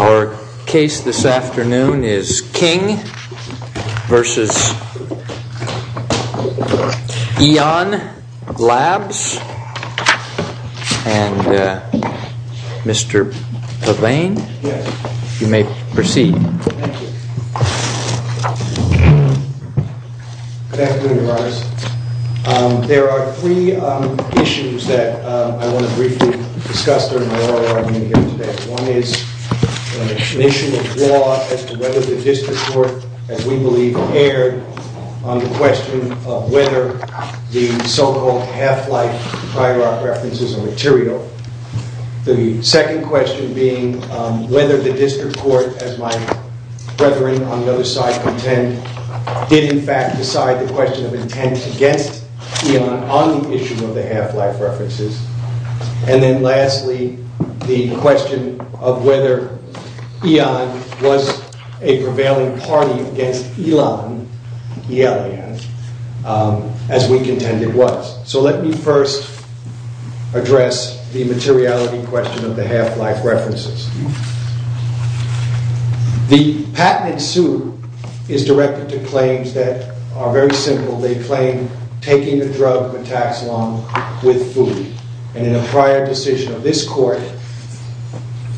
Our case this afternoon is King v. Eon Labs, and Mr. Levine, you may proceed. Thank you. Good afternoon, Your Honors. There are three issues that I want to briefly discuss during the oral argument here today. One is an issue of law as to whether the district court, as we believe, erred on the question of whether the so-called half-life prior art references are material. The second question being whether the district court, as my brethren on the other side contend, did in fact decide the question of intent against Eon on the issue of the half-life references. And then lastly, the question of whether Eon was a materiality question of the half-life references. The patent in suit is directed to claims that are very simple. They claim taking a drug metaxalon with food. And in a prior decision of this court,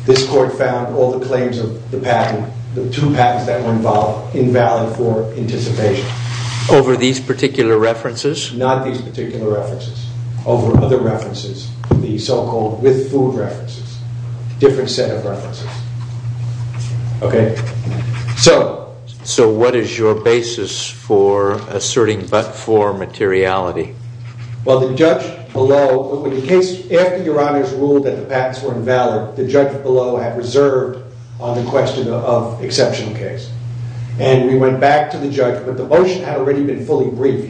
this court found all the claims of the patent, the two patents that were involved, invalid for anticipation. Over these particular references? Not these particular references. Over other references. The so-called with food references. Different set of references. Okay? So what is your basis for asserting but for materiality? Well, the judge below, after Your Honors ruled that the patents were invalid, the judge below had reserved on the question of exceptional case. And we went back to the judge, but the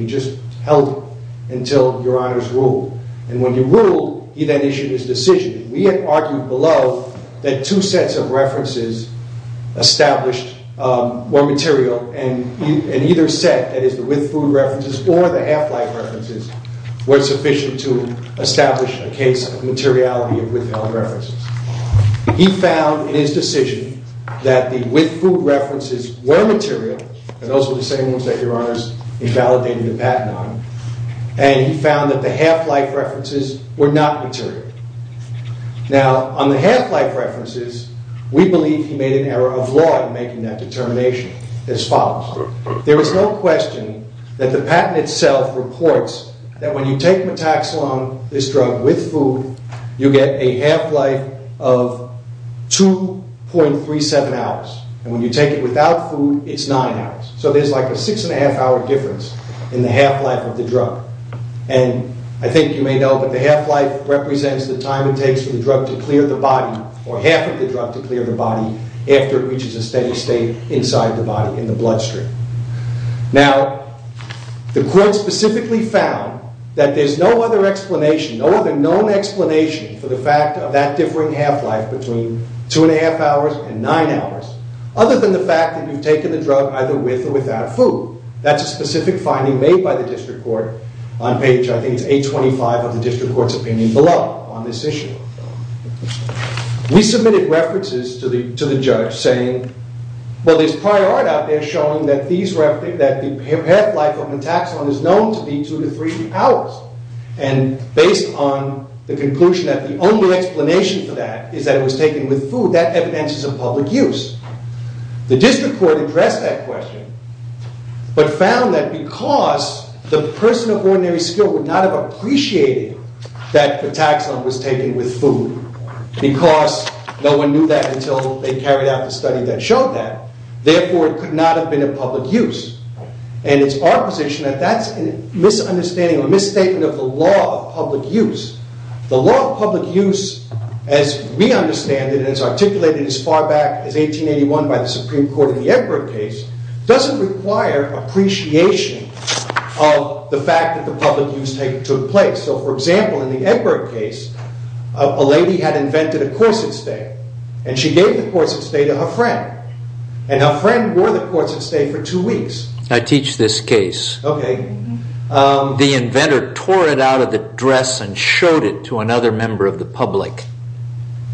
judge held until Your Honors ruled. And when he ruled, he then issued his decision. We had argued below that two sets of references established were material and either set, that is the with food references or the half-life references, were sufficient to establish a case of materiality of withheld references. He found in his decision that the with food references were material, and those were the same ones that Your Honors invalidated the patent on, and he found that the half-life references were not material. Now, on the half-life references, we believe he made an error of law in making that determination, as follows. There is no question that the patent itself reports that when you take metaxalon, this drug, with food, you get a half-life of 2.37 hours. And when you take it without food, it's nine hours. So there's like a six-and-a-half-hour difference in the half-life of the drug. And I think you may know, but the half-life represents the time it takes for the drug to clear the body or half of the drug to clear the body after it reaches a steady state inside the body in the bloodstream. Now, the court specifically found that there's no other explanation, no other known explanation for the fact of that differing half-life between two-and-a-half hours and nine hours, other than the fact that you've taken the drug either with or without food. That's a specific finding made by the district court on page, I think, it's 825 of the district court's opinion below on this issue. We submitted references to the judge saying, well, there's prior art out there showing that the half-life of methaxone is known to be two to three hours. And based on the conclusion that the only explanation for that is that it was taken with food, that evidence is of public use. The district court addressed that question, but found that because the person of ordinary skill would not have appreciated that methaxone was taken with food because no one knew that until they carried out the study that showed that, therefore, it could not have been of public use. And it's our position that that's a misunderstanding or a misstatement of the law of public use. The law of public use, as we understand it and as articulated as far back as 1881 by the Supreme Court in the Egbert case, doesn't require appreciation of the fact that the public use took place. So, for example, in the Egbert case, a lady had invented a corset stay, and she gave the corset stay for two weeks. I teach this case. OK. The inventor tore it out of the dress and showed it to another member of the public.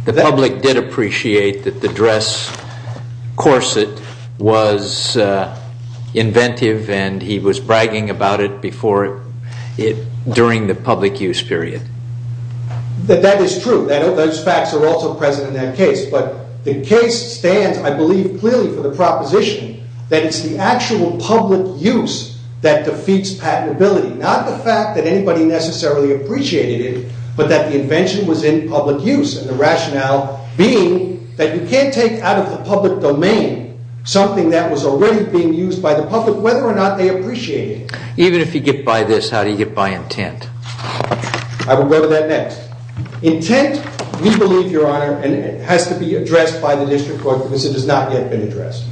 The public did appreciate that the dress corset was inventive, and he was bragging about it during the public use period. That is true. Those facts are also present in that case. But the case stands, I believe, clearly for the proposition that it's the actual public use that defeats patentability. Not the fact that anybody necessarily appreciated it, but that the invention was in public use and the rationale being that you can't take out of the public domain something that was already being used by the public, whether or not they appreciated it. Even if you get by this, how do you get by intent? I will go to that next. Intent, we believe, Your Honor, has to be addressed by the district court because it has not yet been addressed.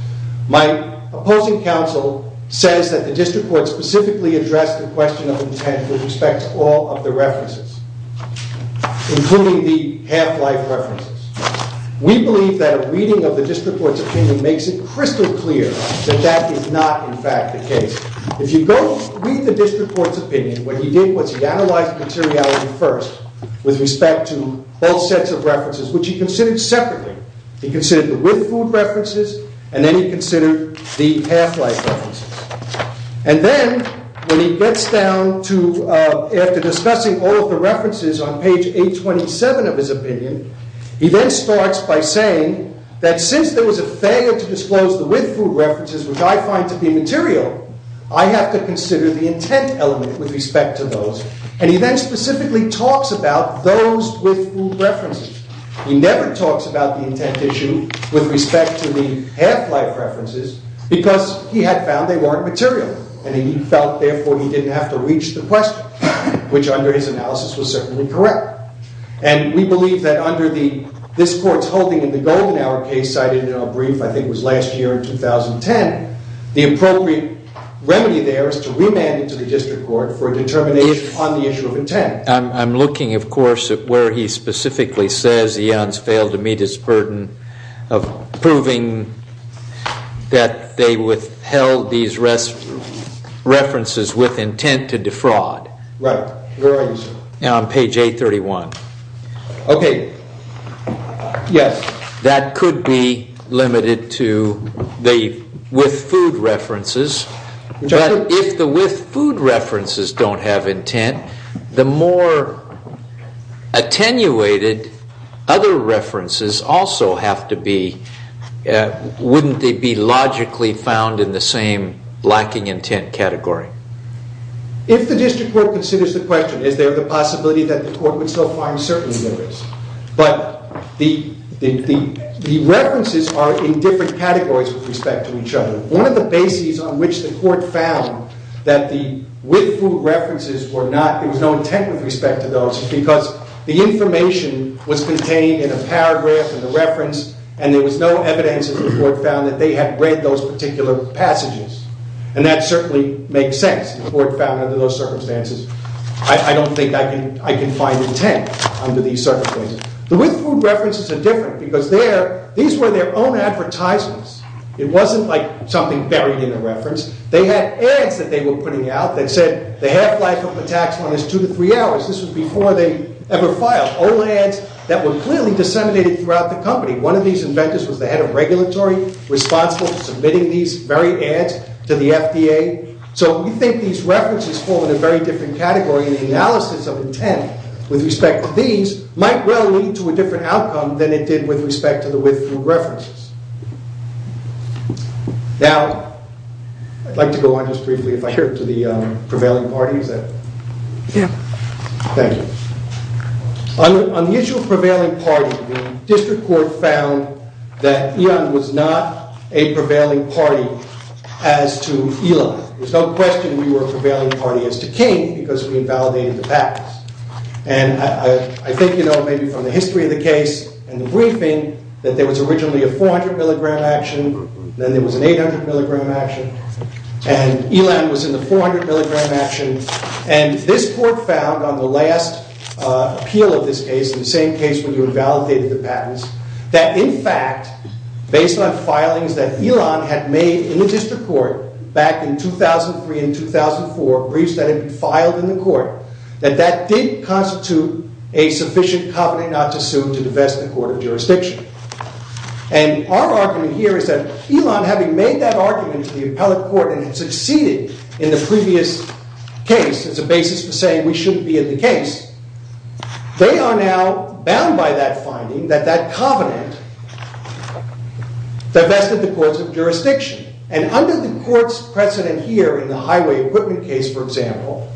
My opposing counsel says that the district court specifically addressed the question of intent with respect to all of the references, including the half-life references. We believe that a reading of the district court's opinion makes it crystal clear that that is not, in fact, the case. If you go read the district court's opinion, what he did was he analyzed the materiality first with respect to both sets of references, which he considered separately. He considered the with-food references, and then he considered the half-life references. And then when he gets down to, after discussing all of the references on page 827 of his opinion, he then starts by saying that since there was a failure to disclose the with-food references, which I find to be material, I have to consider the intent element with respect to those. And he then specifically talks about those with-food references. He never talks about the intent issue with respect to the half-life references because he had found they weren't material. And he felt, therefore, he didn't have to reach the question, which under his analysis was certainly correct. And we believe that under this Court's holding in the Golden Hour case cited in our brief, I think it was last year in 2010, the appropriate remedy there is to remand it to the district court for determination on the issue of intent. I'm looking, of course, at where he specifically says Eons failed to meet his burden of proving that they withheld these references with intent to defraud. Right. Where are you, sir? On page 831. OK. Yes. That could be limited to the with-food references. But if the with-food references don't have intent, the more attenuated other references also have to be, wouldn't they be logically found in the same lacking intent category? If the district court considers the question, is there the possibility that the court would still find certainly there is. But the references are in different categories with respect to each other. One of the bases on which the court found that the with-food references were not, there was no intent with respect to those because the information was contained in a paragraph in the reference, and there was no evidence that the court found that they had read those particular passages. And that certainly makes sense. The court found under those circumstances, I don't think I can find intent under these categories. The with-food references are different because these were their own advertisements. It wasn't like something buried in a reference. They had ads that they were putting out that said the half-life of the tax fund is two to three hours. This was before they ever filed. Old ads that were clearly disseminated throughout the company. One of these inventors was the head of regulatory responsible for submitting these very ads to the FDA. So we think these references fall in a very different category. And the analysis of intent with respect to these might well lead to a different outcome than it did with respect to the with-food references. Now, I'd like to go on just briefly if I could to the prevailing parties. Yeah. Thank you. On the issue of prevailing parties, the district court found that Ian was not a prevailing party as to Eli. There was no question we were a prevailing party as to King because we invalidated the patents. And I think you know maybe from the history of the case and the briefing that there was originally a 400 milligram action. Then there was an 800 milligram action. And Elon was in the 400 milligram action. And this court found on the last appeal of this case, the same case where you invalidated the patents, that in fact, based on filings that Elon had made in the district court back in 2003 and 2004, briefs that had been filed in the court, that that did constitute a sufficient covenant not to sue to divest the court of jurisdiction. And our argument here is that Elon, having made that argument to the appellate court and had succeeded in the previous case as a basis for saying we shouldn't be in the case, they are now bound by that finding that that covenant divested the courts of jurisdiction. And under the court's precedent here in the highway equipment case, for example,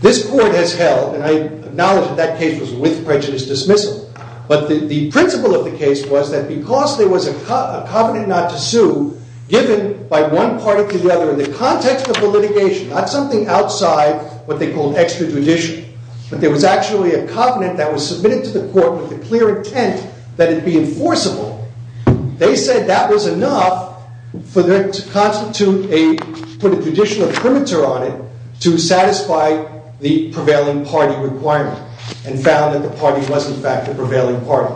this court has held, and I acknowledge that that case was with prejudice dismissal, but the principle of the case was that because there was a covenant not to sue given by one party to the other in the context of the litigation, not something outside what they called extra judicial, but there was actually a covenant that was submitted to the court with the clear intent that it be enforceable. They said that was enough to put a judicial perimeter on it to satisfy the prevailing party requirement and found that the party was in fact the prevailing party.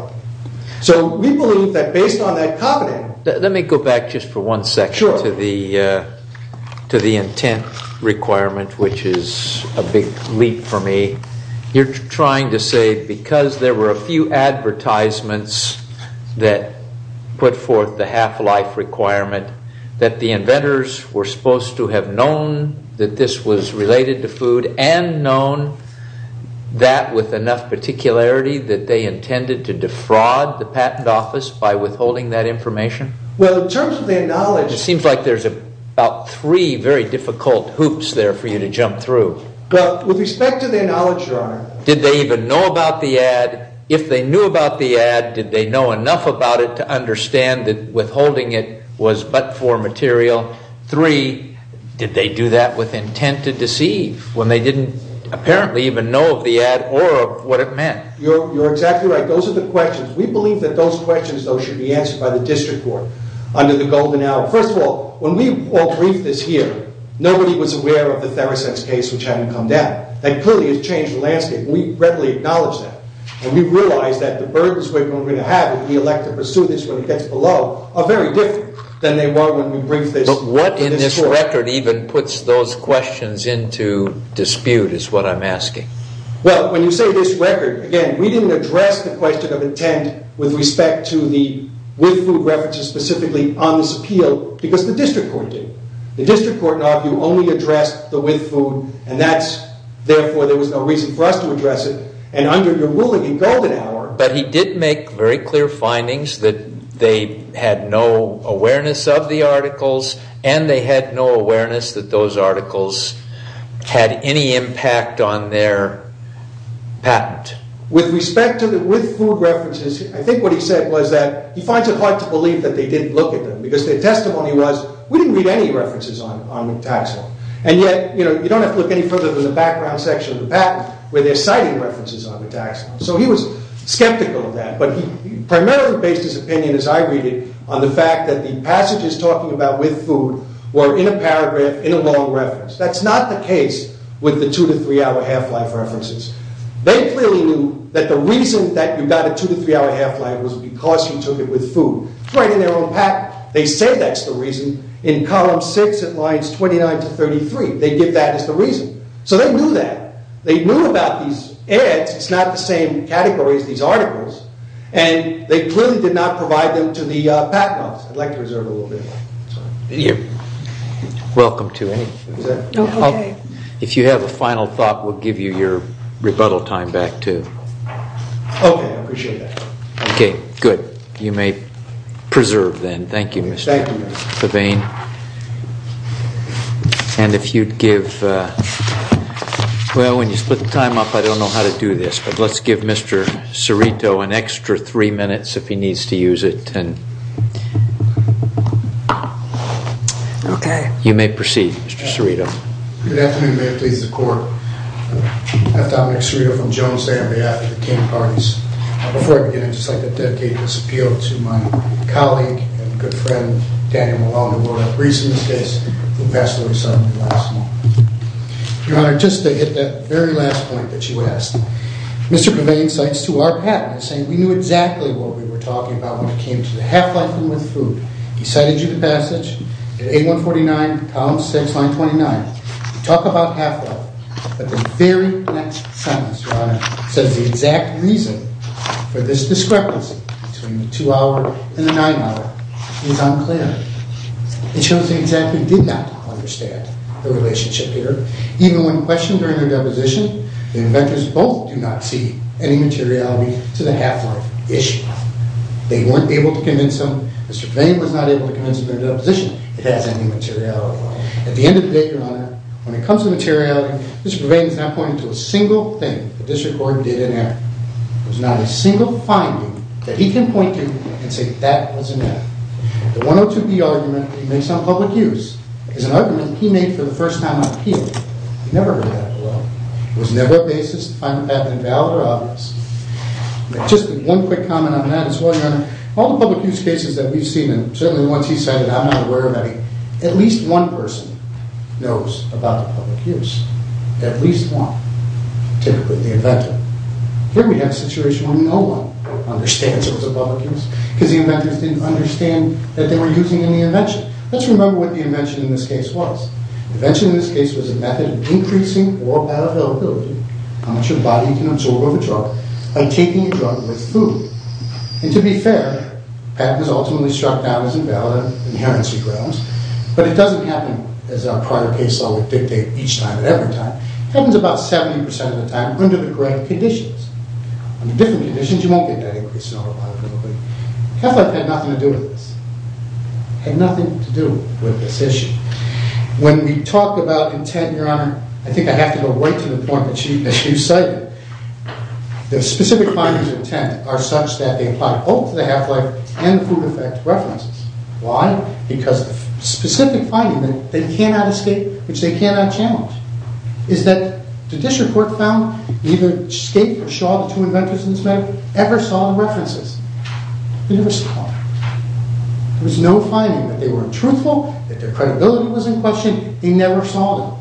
So we believe that based on that covenant- Let me go back just for one second to the intent requirement, which is a big leap for me. You're trying to say because there were a few advertisements that put forth the half life requirement that the inventors were supposed to have known that this was related to food and known that with enough particularity that they intended to defraud the patent office by withholding that information? Well, in terms of their knowledge- It seems like there's about three very difficult hoops there for you to jump through. But with respect to their knowledge, Your Honor- Did they even know about the ad? If they knew about the ad, did they know enough about it to understand that withholding it was but for material? Three, did they do that with intent to deceive when they didn't apparently even know of the ad or of what it meant? You're exactly right. Those are the questions. We believe that those questions, though, should be answered by the district court under the golden hour. First of all, when we all briefed this here, nobody was aware of the Theresex case, which hadn't come down. That clearly has changed the landscape, and we readily acknowledge that. And we realize that the burdens we're going to have if we elect to pursue this when it gets below are very different than they were when we briefed this- But what in this record even puts those questions into dispute is what I'm asking. Well, when you say this record, again, we didn't address the question of intent with respect to the with food references specifically on this appeal because the district court did. The district court in our view only addressed the with food, and therefore there was no reason for us to address it. And under your ruling in golden hour- But he did make very clear findings that they had no awareness of the articles, and they had no awareness that those articles had any impact on their patent. With respect to the with food references, I think what he said was that he finds it hard to believe that they didn't look at them because their testimony was we didn't read any references on the tax law. And yet, you don't have to look any further than the background section of the patent where they're citing references on the tax law. So he was skeptical of that, but he primarily based his opinion as I read it on the fact that the passages talking about with food were in a paragraph in a long reference. That's not the case with the two to three hour half-life references. They clearly knew that the reason that you got a two to three hour half-life was because you took it with food. It's right in their own patent. In fact, they say that's the reason in column six at lines 29 to 33. They give that as the reason. So they knew that. They knew about these ads. It's not the same category as these articles, and they clearly did not provide them to the patent office. I'd like to reserve a little bit. Thank you. Welcome to any- No, okay. If you have a final thought, we'll give you your rebuttal time back too. Okay, I appreciate that. Okay, good. You may preserve then. Thank you, Mr. Devane. Thank you. And if you'd give, well, when you split the time up, I don't know how to do this, but let's give Mr. Cerrito an extra three minutes if he needs to use it. Okay. You may proceed, Mr. Cerrito. Good afternoon. May it please the court. I'm Dominic Cerrito from Jones family out at the king parties. Before I begin, I'd just like to dedicate this appeal to my colleague and good friend, Daniel Malone, who recently passed away suddenly last month. Your Honor, just to hit that very last point that you asked, Mr. Devane cites to our patent saying we knew exactly what we were talking about when it came to the half-life and with food. He cited you to passage at 8149, column 6, line 29. You talk about half-life, but the very next sentence, Your Honor, says the exact reason for this discrepancy between the two-hour and the nine-hour is unclear. It shows he exactly did not understand the relationship here. Even when questioned during their deposition, the inventors both do not see any materiality to the half-life issue. They weren't able to convince him. Mr. Devane was not able to convince him in their deposition it has any materiality. At the end of the day, Your Honor, when it comes to materiality, Mr. Devane is not pointing to a single thing the district court did in error. There's not a single finding that he can point to and say that was an error. The 102B argument that he makes on public use is an argument he made for the first time on appeal. He never heard that before. It was never a basis to find the patent invalid or obvious. Just one quick comment on that as well, Your Honor. All the public use cases that we've seen, and certainly the ones he cited, I'm not aware of any, at least one person knows about the public use. At least one. Typically the inventor. Here we have a situation where no one understands it was a public use because the inventors didn't understand that they were using any invention. Let's remember what the invention in this case was. The invention in this case was a method of increasing all patent availability, how much your body can absorb of a drug, by taking a drug with food. And to be fair, patent is ultimately struck down as invalid on inherency grounds. But it doesn't happen as our prior case law would dictate each time and every time. It happens about 70% of the time under the correct conditions. Under different conditions you won't get that increase in all the patent availability. Catholic had nothing to do with this. Had nothing to do with this issue. When we talk about intent, Your Honor, I think I have to go right to the point that you cited. The specific findings of intent are such that they apply both to the half-life and the food effect references. Why? Because the specific finding that they cannot escape, which they cannot challenge, is that the district court found neither Skate nor Shaw, the two inventors in this matter, ever saw the references. They never saw them. There was no finding that they were untruthful, that their credibility was in question. They never saw them.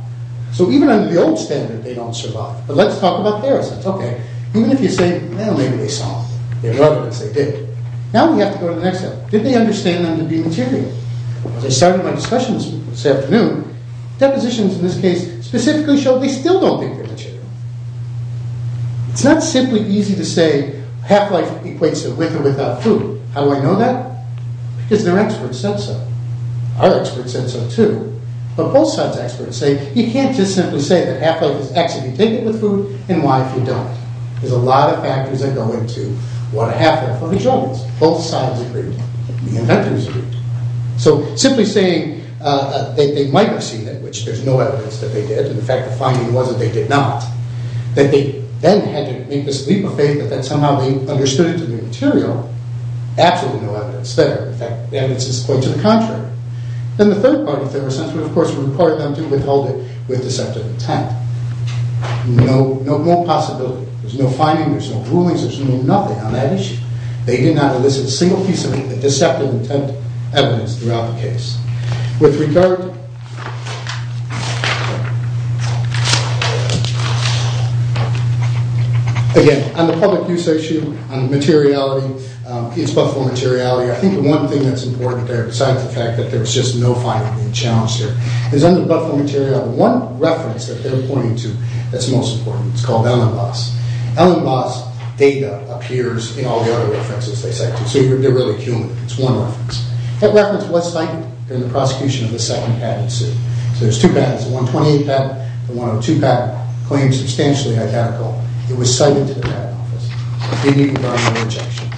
So even under the old standard they don't survive. But let's talk about their sense. Okay. Even if you say, well, maybe they saw them. In other words, they did. Now we have to go to the next step. Did they understand them to be material? As I started my discussion this afternoon, depositions in this case specifically show they still don't think they're material. It's not simply easy to say half-life equates to with or without food. How do I know that? Because their experts said so. Our experts said so too. But both sides' experts say you can't just simply say that half-life is X if you take it with food and Y if you don't. There's a lot of factors that go into what a half-life looks like. Both sides agreed. The inventors agreed. So simply saying that they might have seen it, which there's no evidence that they did, and the fact the finding was that they did not, that they then had to make this leap of faith that somehow they understood it to be material, absolutely no evidence there. In fact, the evidence is quite to the contrary. And the third part of their assessment, of course, required them to withhold it with deceptive intent. No more possibility. There's no finding. There's no rulings. There's no nothing on that issue. They did not elicit a single piece of deceptive intent evidence throughout the case. With regard... Again, on the public use issue, on materiality, it's but for materiality. I think the one thing that's important there, besides the fact that there's just no finding being challenged here, is under but for materiality, one reference that they're pointing to that's most important. It's called Ellenbos. Ellenbos' data appears in all the other references they cite to. So they're really human. It's one reference. That reference was cited in the prosecution of the second patent suit. So there's two patents, the 128 patent and the 102 patent, claimed substantially identical. It was cited to the patent office. They need environmental rejection.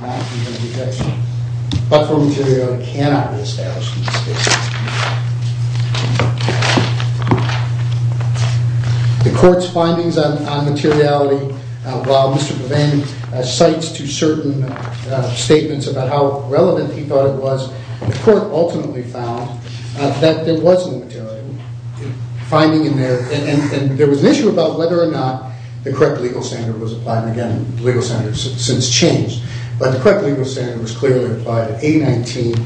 Not human rejection. But for materiality cannot be established in this case. The court's findings on materiality, while Mr. Levin cites to certain statements about how relevant he thought it was, the court ultimately found that there was no materiality. And there was an issue about whether or not the correct legal standard was applied. And again, the legal standard has since changed. But the correct legal standard was clearly applied at A-15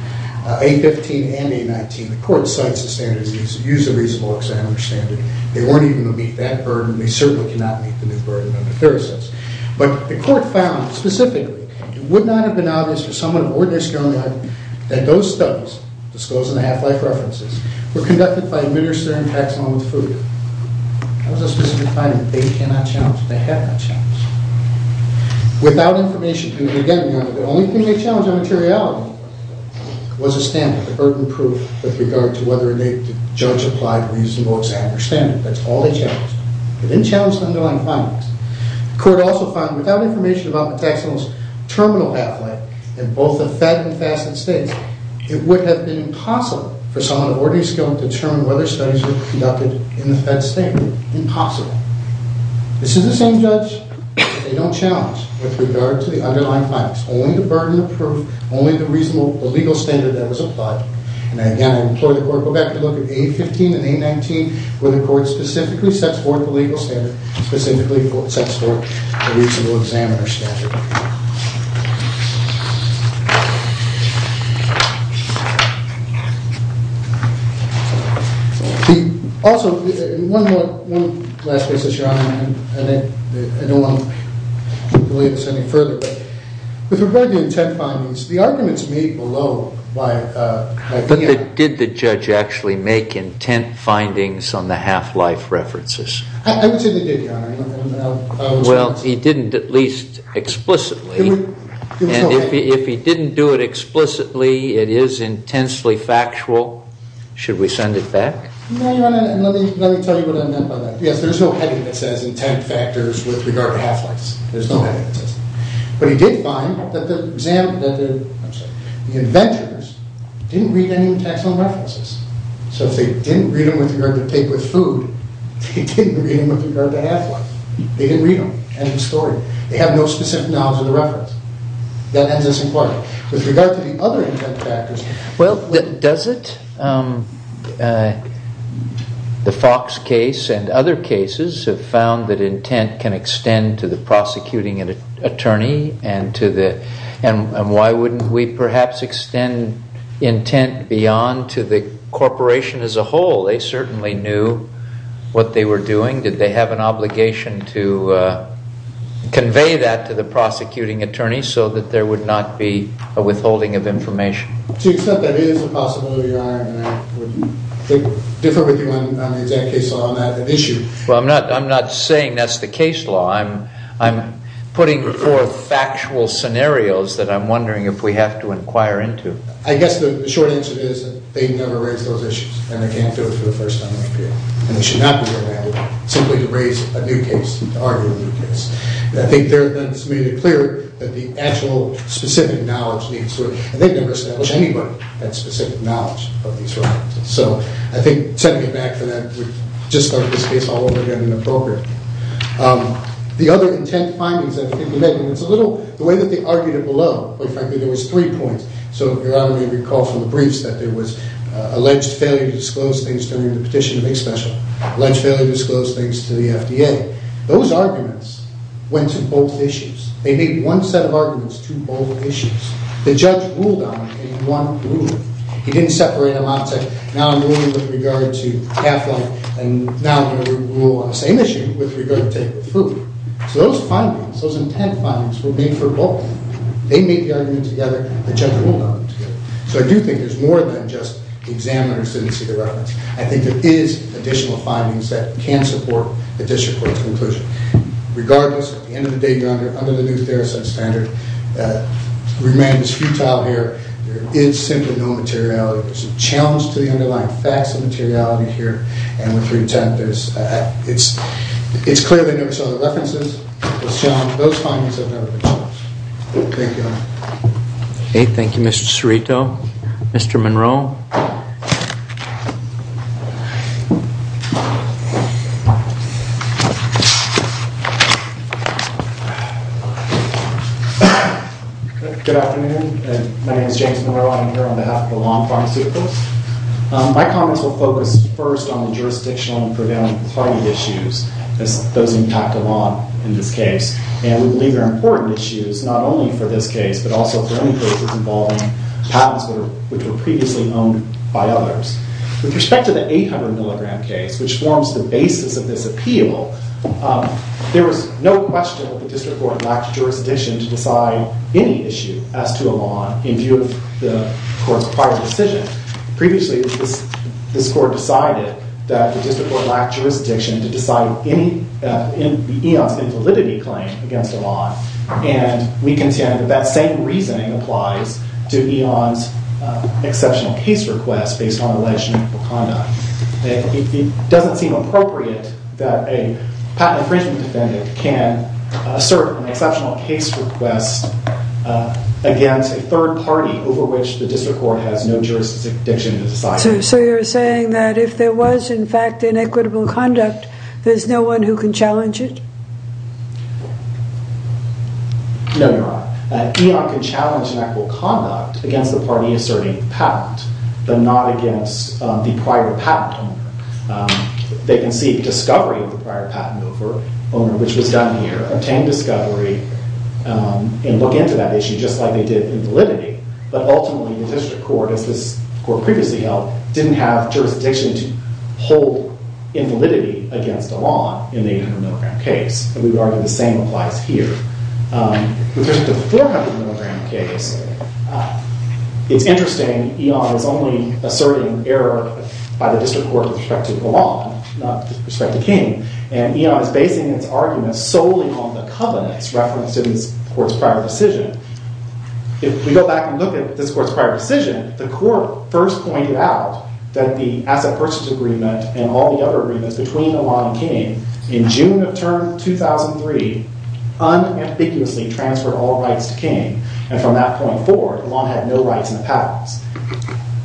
and A-19. The court cites the standards. These are reasonable, as I understand it. They weren't even going to meet that burden. They certainly cannot meet the new burden under Therese's. But the court found, specifically, it would not have been obvious to someone of ordinary skill and knowledge that those studies, disclosing the half-life references, were conducted by administering taxonomic food. That was a specific finding. They cannot challenge it. They have not challenged it. Without information, and again, the only thing they challenged on materiality was a standard, a burden proof, with regard to whether or not the judge applied reasonable, as I understand it. That's all they challenged. They didn't challenge the underlying findings. The court also found, without information about the taxonomist's terminal half-life in both the Fed and FASTED states, it would have been impossible for someone of ordinary skill to determine whether studies were conducted in the Fed standard. Impossible. This is the same judge that they don't challenge with regard to the underlying findings, only the burden of proof, only the reasonable legal standard that was applied. And again, I implore the court to go back and look at A-15 and A-19, where the court specifically sets forth the legal standard, specifically sets forth the reasonable examiner standard. Also, one last case, Your Honor, and then I don't want to delay this any further, but with regard to the intent findings, the arguments made below by the- Did the judge actually make intent findings on the half-life references? I would say they did, Your Honor. Well, he didn't at least explicitly. And if he didn't do it explicitly, it is intensely factual. Should we send it back? No, Your Honor, and let me tell you what I meant by that. Yes, there's no heading that says intent factors with regard to half-lifes. There's no heading that says that. But he did find that the inventors didn't read any text on references. So if they didn't read them with regard to tape with food, they didn't read them with regard to half-life. They didn't read them. End of story. They have no specific knowledge of the reference. That ends this inquiry. With regard to the other intent factors- Well, does it? The Fox case and other cases have found that intent can extend to the prosecuting attorney, and why wouldn't we perhaps extend intent beyond to the corporation as a whole? They certainly knew what they were doing. Did they have an obligation to convey that to the prosecuting attorney so that there would not be a withholding of information? To an extent, that is a possibility, Your Honor, and I wouldn't differ with you on the exact case law on that issue. Well, I'm not saying that's the case law. I'm putting forth factual scenarios that I'm wondering if we have to inquire into. I guess the short answer is that they never raised those issues, and they can't do it for the first time in a period. And they should not be allowed simply to raise a new case and to argue a new case. I think that's made it clear that the actual specific knowledge needs work, and they've never established anybody with that specific knowledge of these reliances. So I think setting it back from that would just start this case all over again and appropriate. The other intent findings that have been committed, and it's a little- the way that they argued it below, quite frankly, there was three points. So Your Honor may recall from the briefs that there was alleged failure to disclose things during the petition to make special, alleged failure to disclose things to the FDA. Those arguments went to both issues. They made one set of arguments to both issues. The judge ruled on them in one ruling. He didn't separate them out, say, now I'm ruling with regard to half-life, and now I'm going to rule on the same issue with regard to food. So those findings, those intent findings, were made for both. They made the arguments together. The judge ruled on them together. So I do think there's more than just the examiners didn't see the reference. I think there is additional findings that can support the district court's conclusion. Regardless, at the end of the day, Your Honor, under the new Theracent standard, the remand is futile here. There is simply no materiality. There's a challenge to the underlying facts and materiality here. And with regard to intent, there's- it's clear that there were some other references. Those findings have never been challenged. Thank you, Your Honor. Okay, thank you, Mr. Cerrito. Mr. Monroe. Good afternoon. My name is James Monroe. I'm here on behalf of the Lawn Pharmaceuticals. My comments will focus first on the jurisdictional and preventative party issues. Those impact a lot in this case. And we believe they're important issues, not only for this case, but also for any cases involving patents which were previously owned by others. With respect to the 800-milligram case, which forms the basis of this appeal, there was no question that the district court lacked jurisdiction to decide any issue as to a law in view of the court's prior decision. Previously, this court decided that the district court lacked jurisdiction to decide any- the eons in validity claim against a law. And we contend that that same reasoning applies to eons exceptional case requests based on alleged inequitable conduct. It doesn't seem appropriate that a patent infringement defendant can assert an exceptional case request against a third party over which the district court has no jurisdiction to decide. So you're saying that if there was, in fact, inequitable conduct, there's no one who can challenge it? No, Your Honor. Eon can challenge inequitable conduct against the party asserting patent, but not against the prior patent owner. They can seek discovery of the prior patent over owner, which was done here, obtain discovery, and look into that issue just like they did in validity. But ultimately, the district court, as this court previously held, didn't have jurisdiction to hold invalidity against a law in the 800 milligram case. And we would argue the same applies here. With respect to the 400 milligram case, it's interesting eon is only asserting error by the district court with respect to the law, not with respect to King. And eon is basing its arguments solely on the covenants referenced in this court's prior decision. If we go back and look at this court's prior decision, the court first pointed out that the asset purchase agreement and all the other agreements between Elan and King in June of term 2003 unambiguously transferred all rights to King. And from that point forward, Elan had no rights in the patents.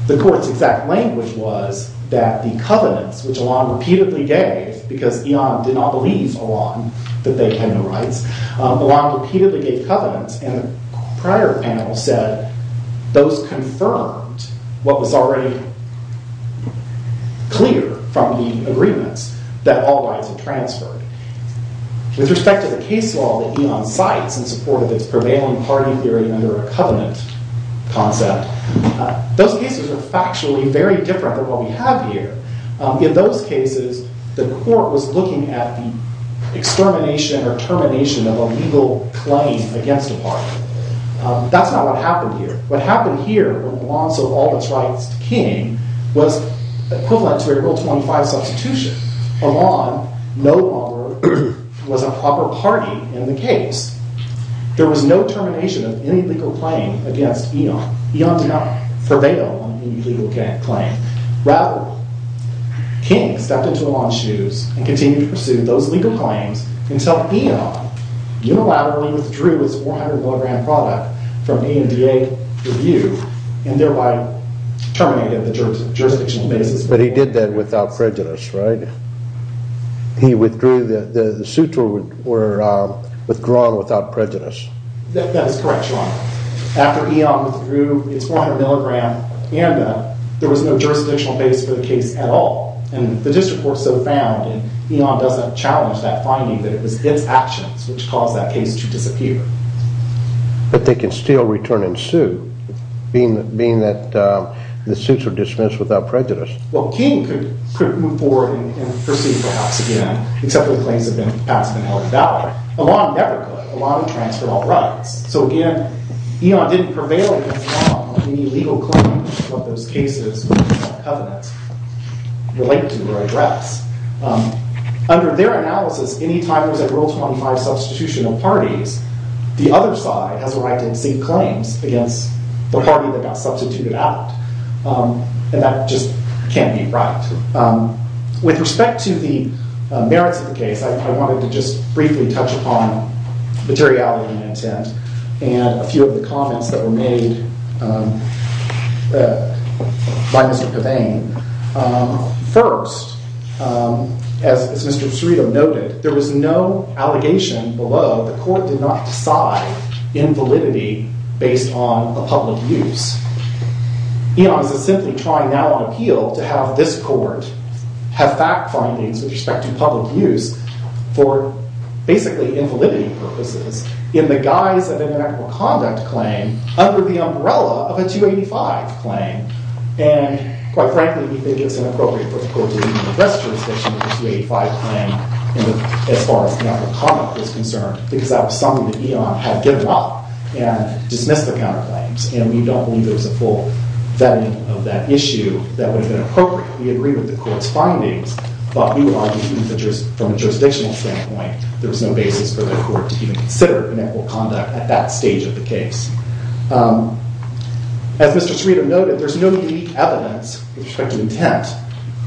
The court's exact language was that the covenants, which Elan repeatedly gave, because eon did not believe Elan that they had no rights, Elan repeatedly gave covenants, and the prior panel said those confirmed what was already clear from the agreements, that all rights were transferred. With respect to the case law that eon cites in support of its prevailing party theory under a covenant concept, those cases are factually very different than what we have here. In those cases, the court was looking at the extermination or termination of a legal claim against a party. That's not what happened here. What happened here with Elan, so all its rights to King, was equivalent to a Rule 25 substitution. Elan no longer was a proper party in the case. There was no termination of any legal claim against eon. Eon did not prevail on any legal claim. Rather, King stepped into Elan's shoes and continued to pursue those legal claims until eon unilaterally withdrew its 400 milligram product from E&DA review and thereby terminated the jurisdictional basis. But he did that without prejudice, right? The suits were withdrawn without prejudice. That is correct, Your Honor. After eon withdrew its 400 milligram from E&DA, there was no jurisdictional basis for the case at all. The district court so found, and eon doesn't challenge that finding, that it was its actions which caused that case to disappear. But they can still return and sue, being that the suits were dismissed without prejudice. Well, King could move forward and pursue perhaps again, except the claims have been passed and held valid. Elan never could. Elan transferred all rights. So again, eon didn't prevail as long on any legal claim of those cases that the Covenant relate to or address. Under their analysis, any time there's a Rule 25 substitution of parties, the other side has a right to seek claims against the party that got substituted out. And that just can't be right. With respect to the merits of the case, I wanted to just briefly touch upon materiality of my intent and a few of the comments that were made by Mr. Pavane. First, as Mr. Cerito noted, there was no allegation below the court did not decide invalidity based on a public use. Eon is simply trying now on appeal to have this court have fact findings with respect to public use for basically invalidity purposes in the guise of an intractable conduct claim under the umbrella of a 285 claim. And quite frankly, we think it's inappropriate for the court to even address jurisdiction of the 285 claim as far as intractable conduct is concerned, because that was something that Eon had given up and dismissed the counterclaims. And we don't believe there was a full vetting of that issue that would have been appropriate. We agree with the court's findings, but we argue from a jurisdictional standpoint there was no basis for the court to even consider inequitable conduct at that stage of the case. As Mr. Cerito noted, there's no unique evidence with respect to intent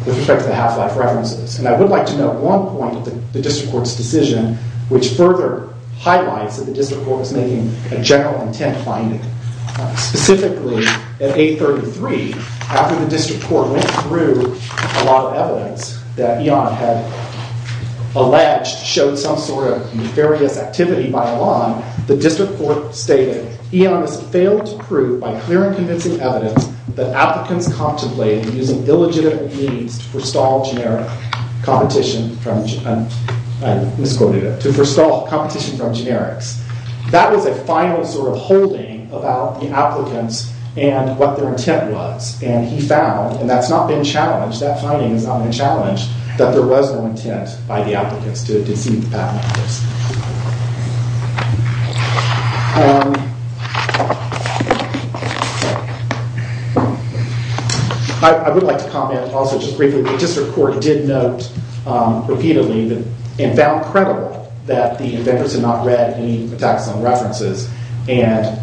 with respect to the half-life references. And I would like to note one point in the district court's decision which further highlights that the district court is making a general intent finding. Specifically, at 833, after the district court went through a lot of evidence that Eon had alleged showed some sort of nefarious activity by Elan, the district court stated, Eon has failed to prove by clear and convincing evidence that applicants contemplated using illegitimate means to forestall generic competition from, I misquoted it, to forestall competition from generics. That was a final sort of holding about the applicants and what their intent was. And he found, and that's not been challenged, that finding is not been challenged, that there was no intent by the applicants to deceive the patent office. I would like to comment also just briefly, the district court did note repeatedly and found credible that the inventors had not read any taxon references. And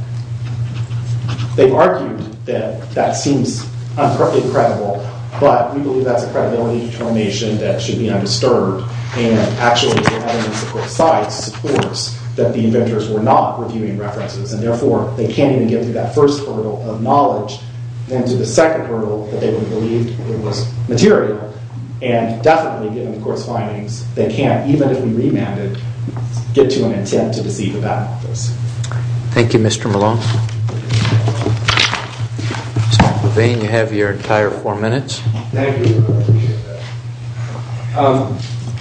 they've argued that that seems uncorrectly credible. But we believe that's a credibility determination that should be undisturbed. And actually, the evidence of both sides supports that the inventors were not reviewing references. And therefore, they can't even get through that first hurdle of knowledge and to the second hurdle that they would believe it was material. And definitely, given the court's findings, they can't, even if we remand it, get to an intent to deceive the patent office. Thank you, Mr. Malone. Mr. Levine, you have your entire four minutes. Thank you. I appreciate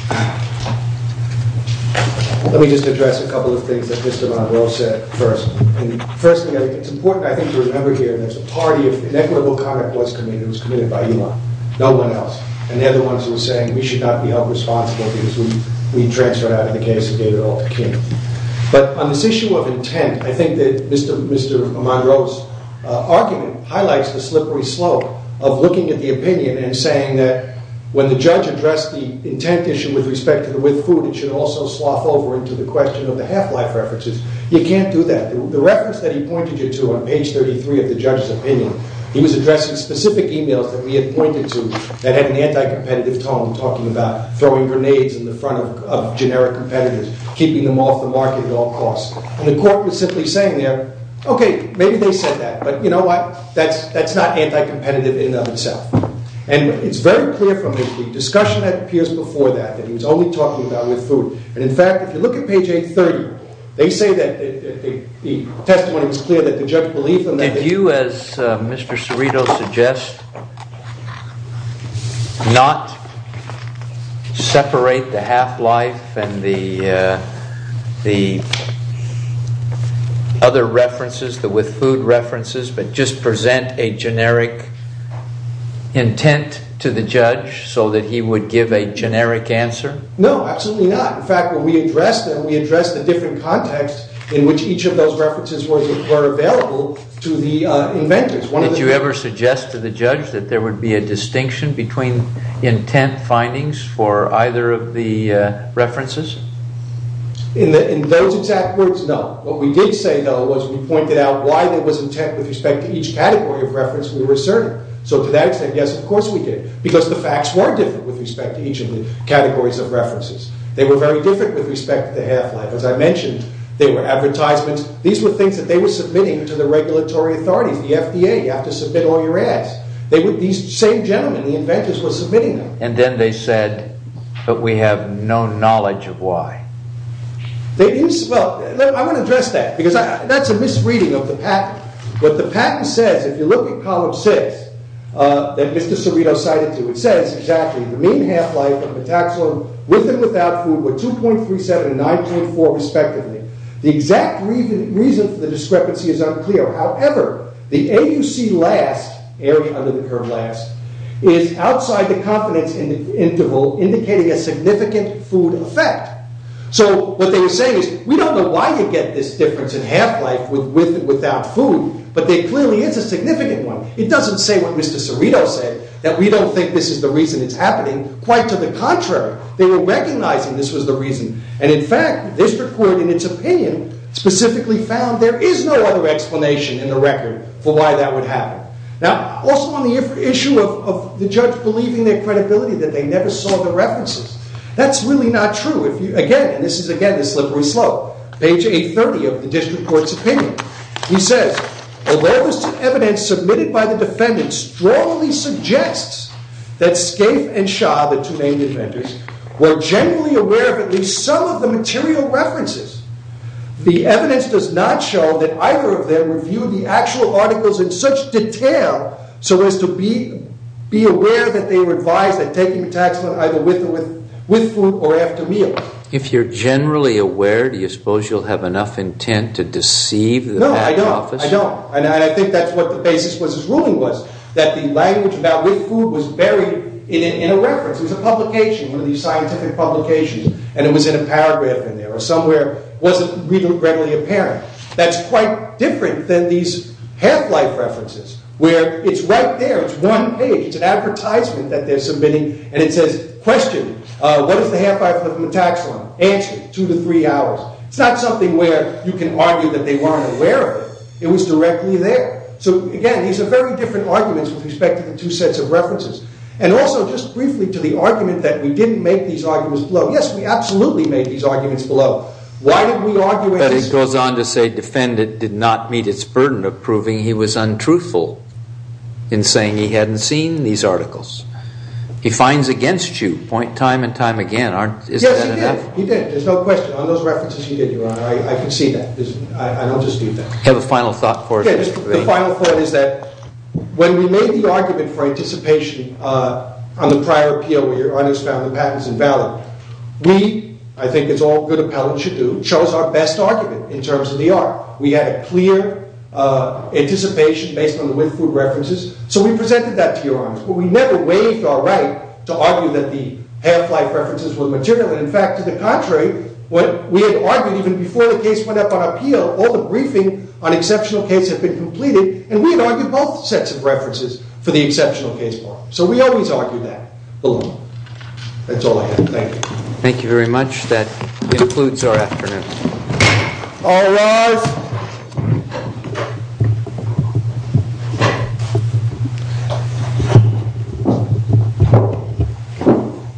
that. Let me just address a couple of things that Mr. Monroe said first. First, it's important, I think, to remember here that the party of inequitable conduct was committed. It was committed by Elon, no one else. And the other ones were saying, we should not be held responsible because we transferred out in the case of David Altkin. But on this issue of intent, I think that Mr. Monroe's argument highlights the slippery slope of looking at the opinion and saying that when the judge addressed the intent issue with respect to the with food, it should also slough over into the question of the half-life references. You can't do that. The reference that he pointed you to on page 33 of the judge's opinion, he was addressing specific emails that we had pointed to that had an anti-competitive tone talking about throwing grenades in the front of generic competitors, keeping them off the market at all costs. And the court was simply saying there, OK, maybe they said that. But you know what? That's not anti-competitive in and of itself. And it's very clear from the discussion that appears before that that he was only talking about with food. And in fact, if you look at page 830, they say that the testimony was clear that the judge believed in that. Did you, as Mr. Cerrito suggests, not separate the half-life and the other references, the with food references, but just present a generic intent to the judge so that he would give a generic answer? No, absolutely not. In fact, when we addressed them, we addressed a different context in which each of those references were available to the inventors. Did you ever suggest to the judge that there would be a distinction between intent findings for either of the references? In those exact words, no. What we did say, though, was we pointed out why there was intent with respect to each category of reference we were asserting. So to that extent, yes, of course we did. Because the facts were different with respect to each of the categories of references. They were very different with respect to the half-life. As I mentioned, they were advertisements. These were things that they were submitting to the regulatory authorities, the FDA. You have to submit all your ads. These same gentlemen, the inventors, were submitting them. And then they said, but we have no knowledge of why. Well, I want to address that. Because that's a misreading of the patent. What the patent says, if you look at Column 6, that Mr. Cerrito cited to, it says exactly, the mean half-life of metaxone with and without food were 2.37 and 9.4, respectively. The exact reason for the discrepancy is unclear. However, the AUC last, area under the term last, is outside the confidence interval, indicating a significant food effect. So what they were saying is, we don't know why you get this difference in half-life with and without food. But there clearly is a significant one. It doesn't say what Mr. Cerrito said, that we don't think this is the reason it's happening. Quite to the contrary, they were recognizing this was the reason. And in fact, the district court, in its opinion, specifically found there is no other explanation in the record for why that would happen. Now, also on the issue of the judge believing their credibility, that they never saw the references. That's really not true. Again, and this is, again, the slippery slope. Page 830 of the district court's opinion. He says, a rare list of evidence submitted by the defendant strongly suggests that Scaife and Shah, the two main defenders, were generally aware of at least some of the material references. The evidence does not show that either of them reviewed the actual articles in such detail so as to be aware that they were advised that taking a tax loan either with food or after meal. If you're generally aware, do you suppose you'll have enough intent to deceive the PAC office? No, I don't. And I think that's what the basis of his ruling was, that the language about with food was buried in a reference. It was a publication, one of these scientific publications. And it was in a paragraph in there, or somewhere wasn't readily apparent. That's quite different than these half-life references, where it's right there. It's one page. It's an advertisement that they're submitting. And it says, question, what is the half-life of the tax loan? Answer, two to three hours. It's not something where you can argue that they weren't aware of it. It was directly there. So again, these are very different arguments with respect to the two sets of references. And also, just briefly, to the argument that we didn't make these arguments below. Yes, we absolutely made these arguments below. Why did we argue it? But it goes on to say, defendant did not meet its burden of proving he was untruthful in saying he hadn't seen these articles. He fines against you point time and time again. Yes, he did. He did. There's no question. On those references, he did, Your Honor. I can see that. I don't dispute that. Have a final thought for us, Mr. Bain. The final thought is that when we made the argument for anticipation on the prior appeal where your audience found the patents invalid, we, I think it's all good appellate should do, chose our best argument in terms of the art. We had a clear anticipation based on the with food references. So we presented that to your audience. But we never waived our right to argue that the half-life references were material. And in fact, to the contrary, what we had argued, even before the case went up on appeal, all the briefing on exceptional case have been completed. And we had argued both sets of references for the exceptional case part. So we always argued that alone. That's all I have. Thank you. Thank you very much. That concludes our afternoon. All rise.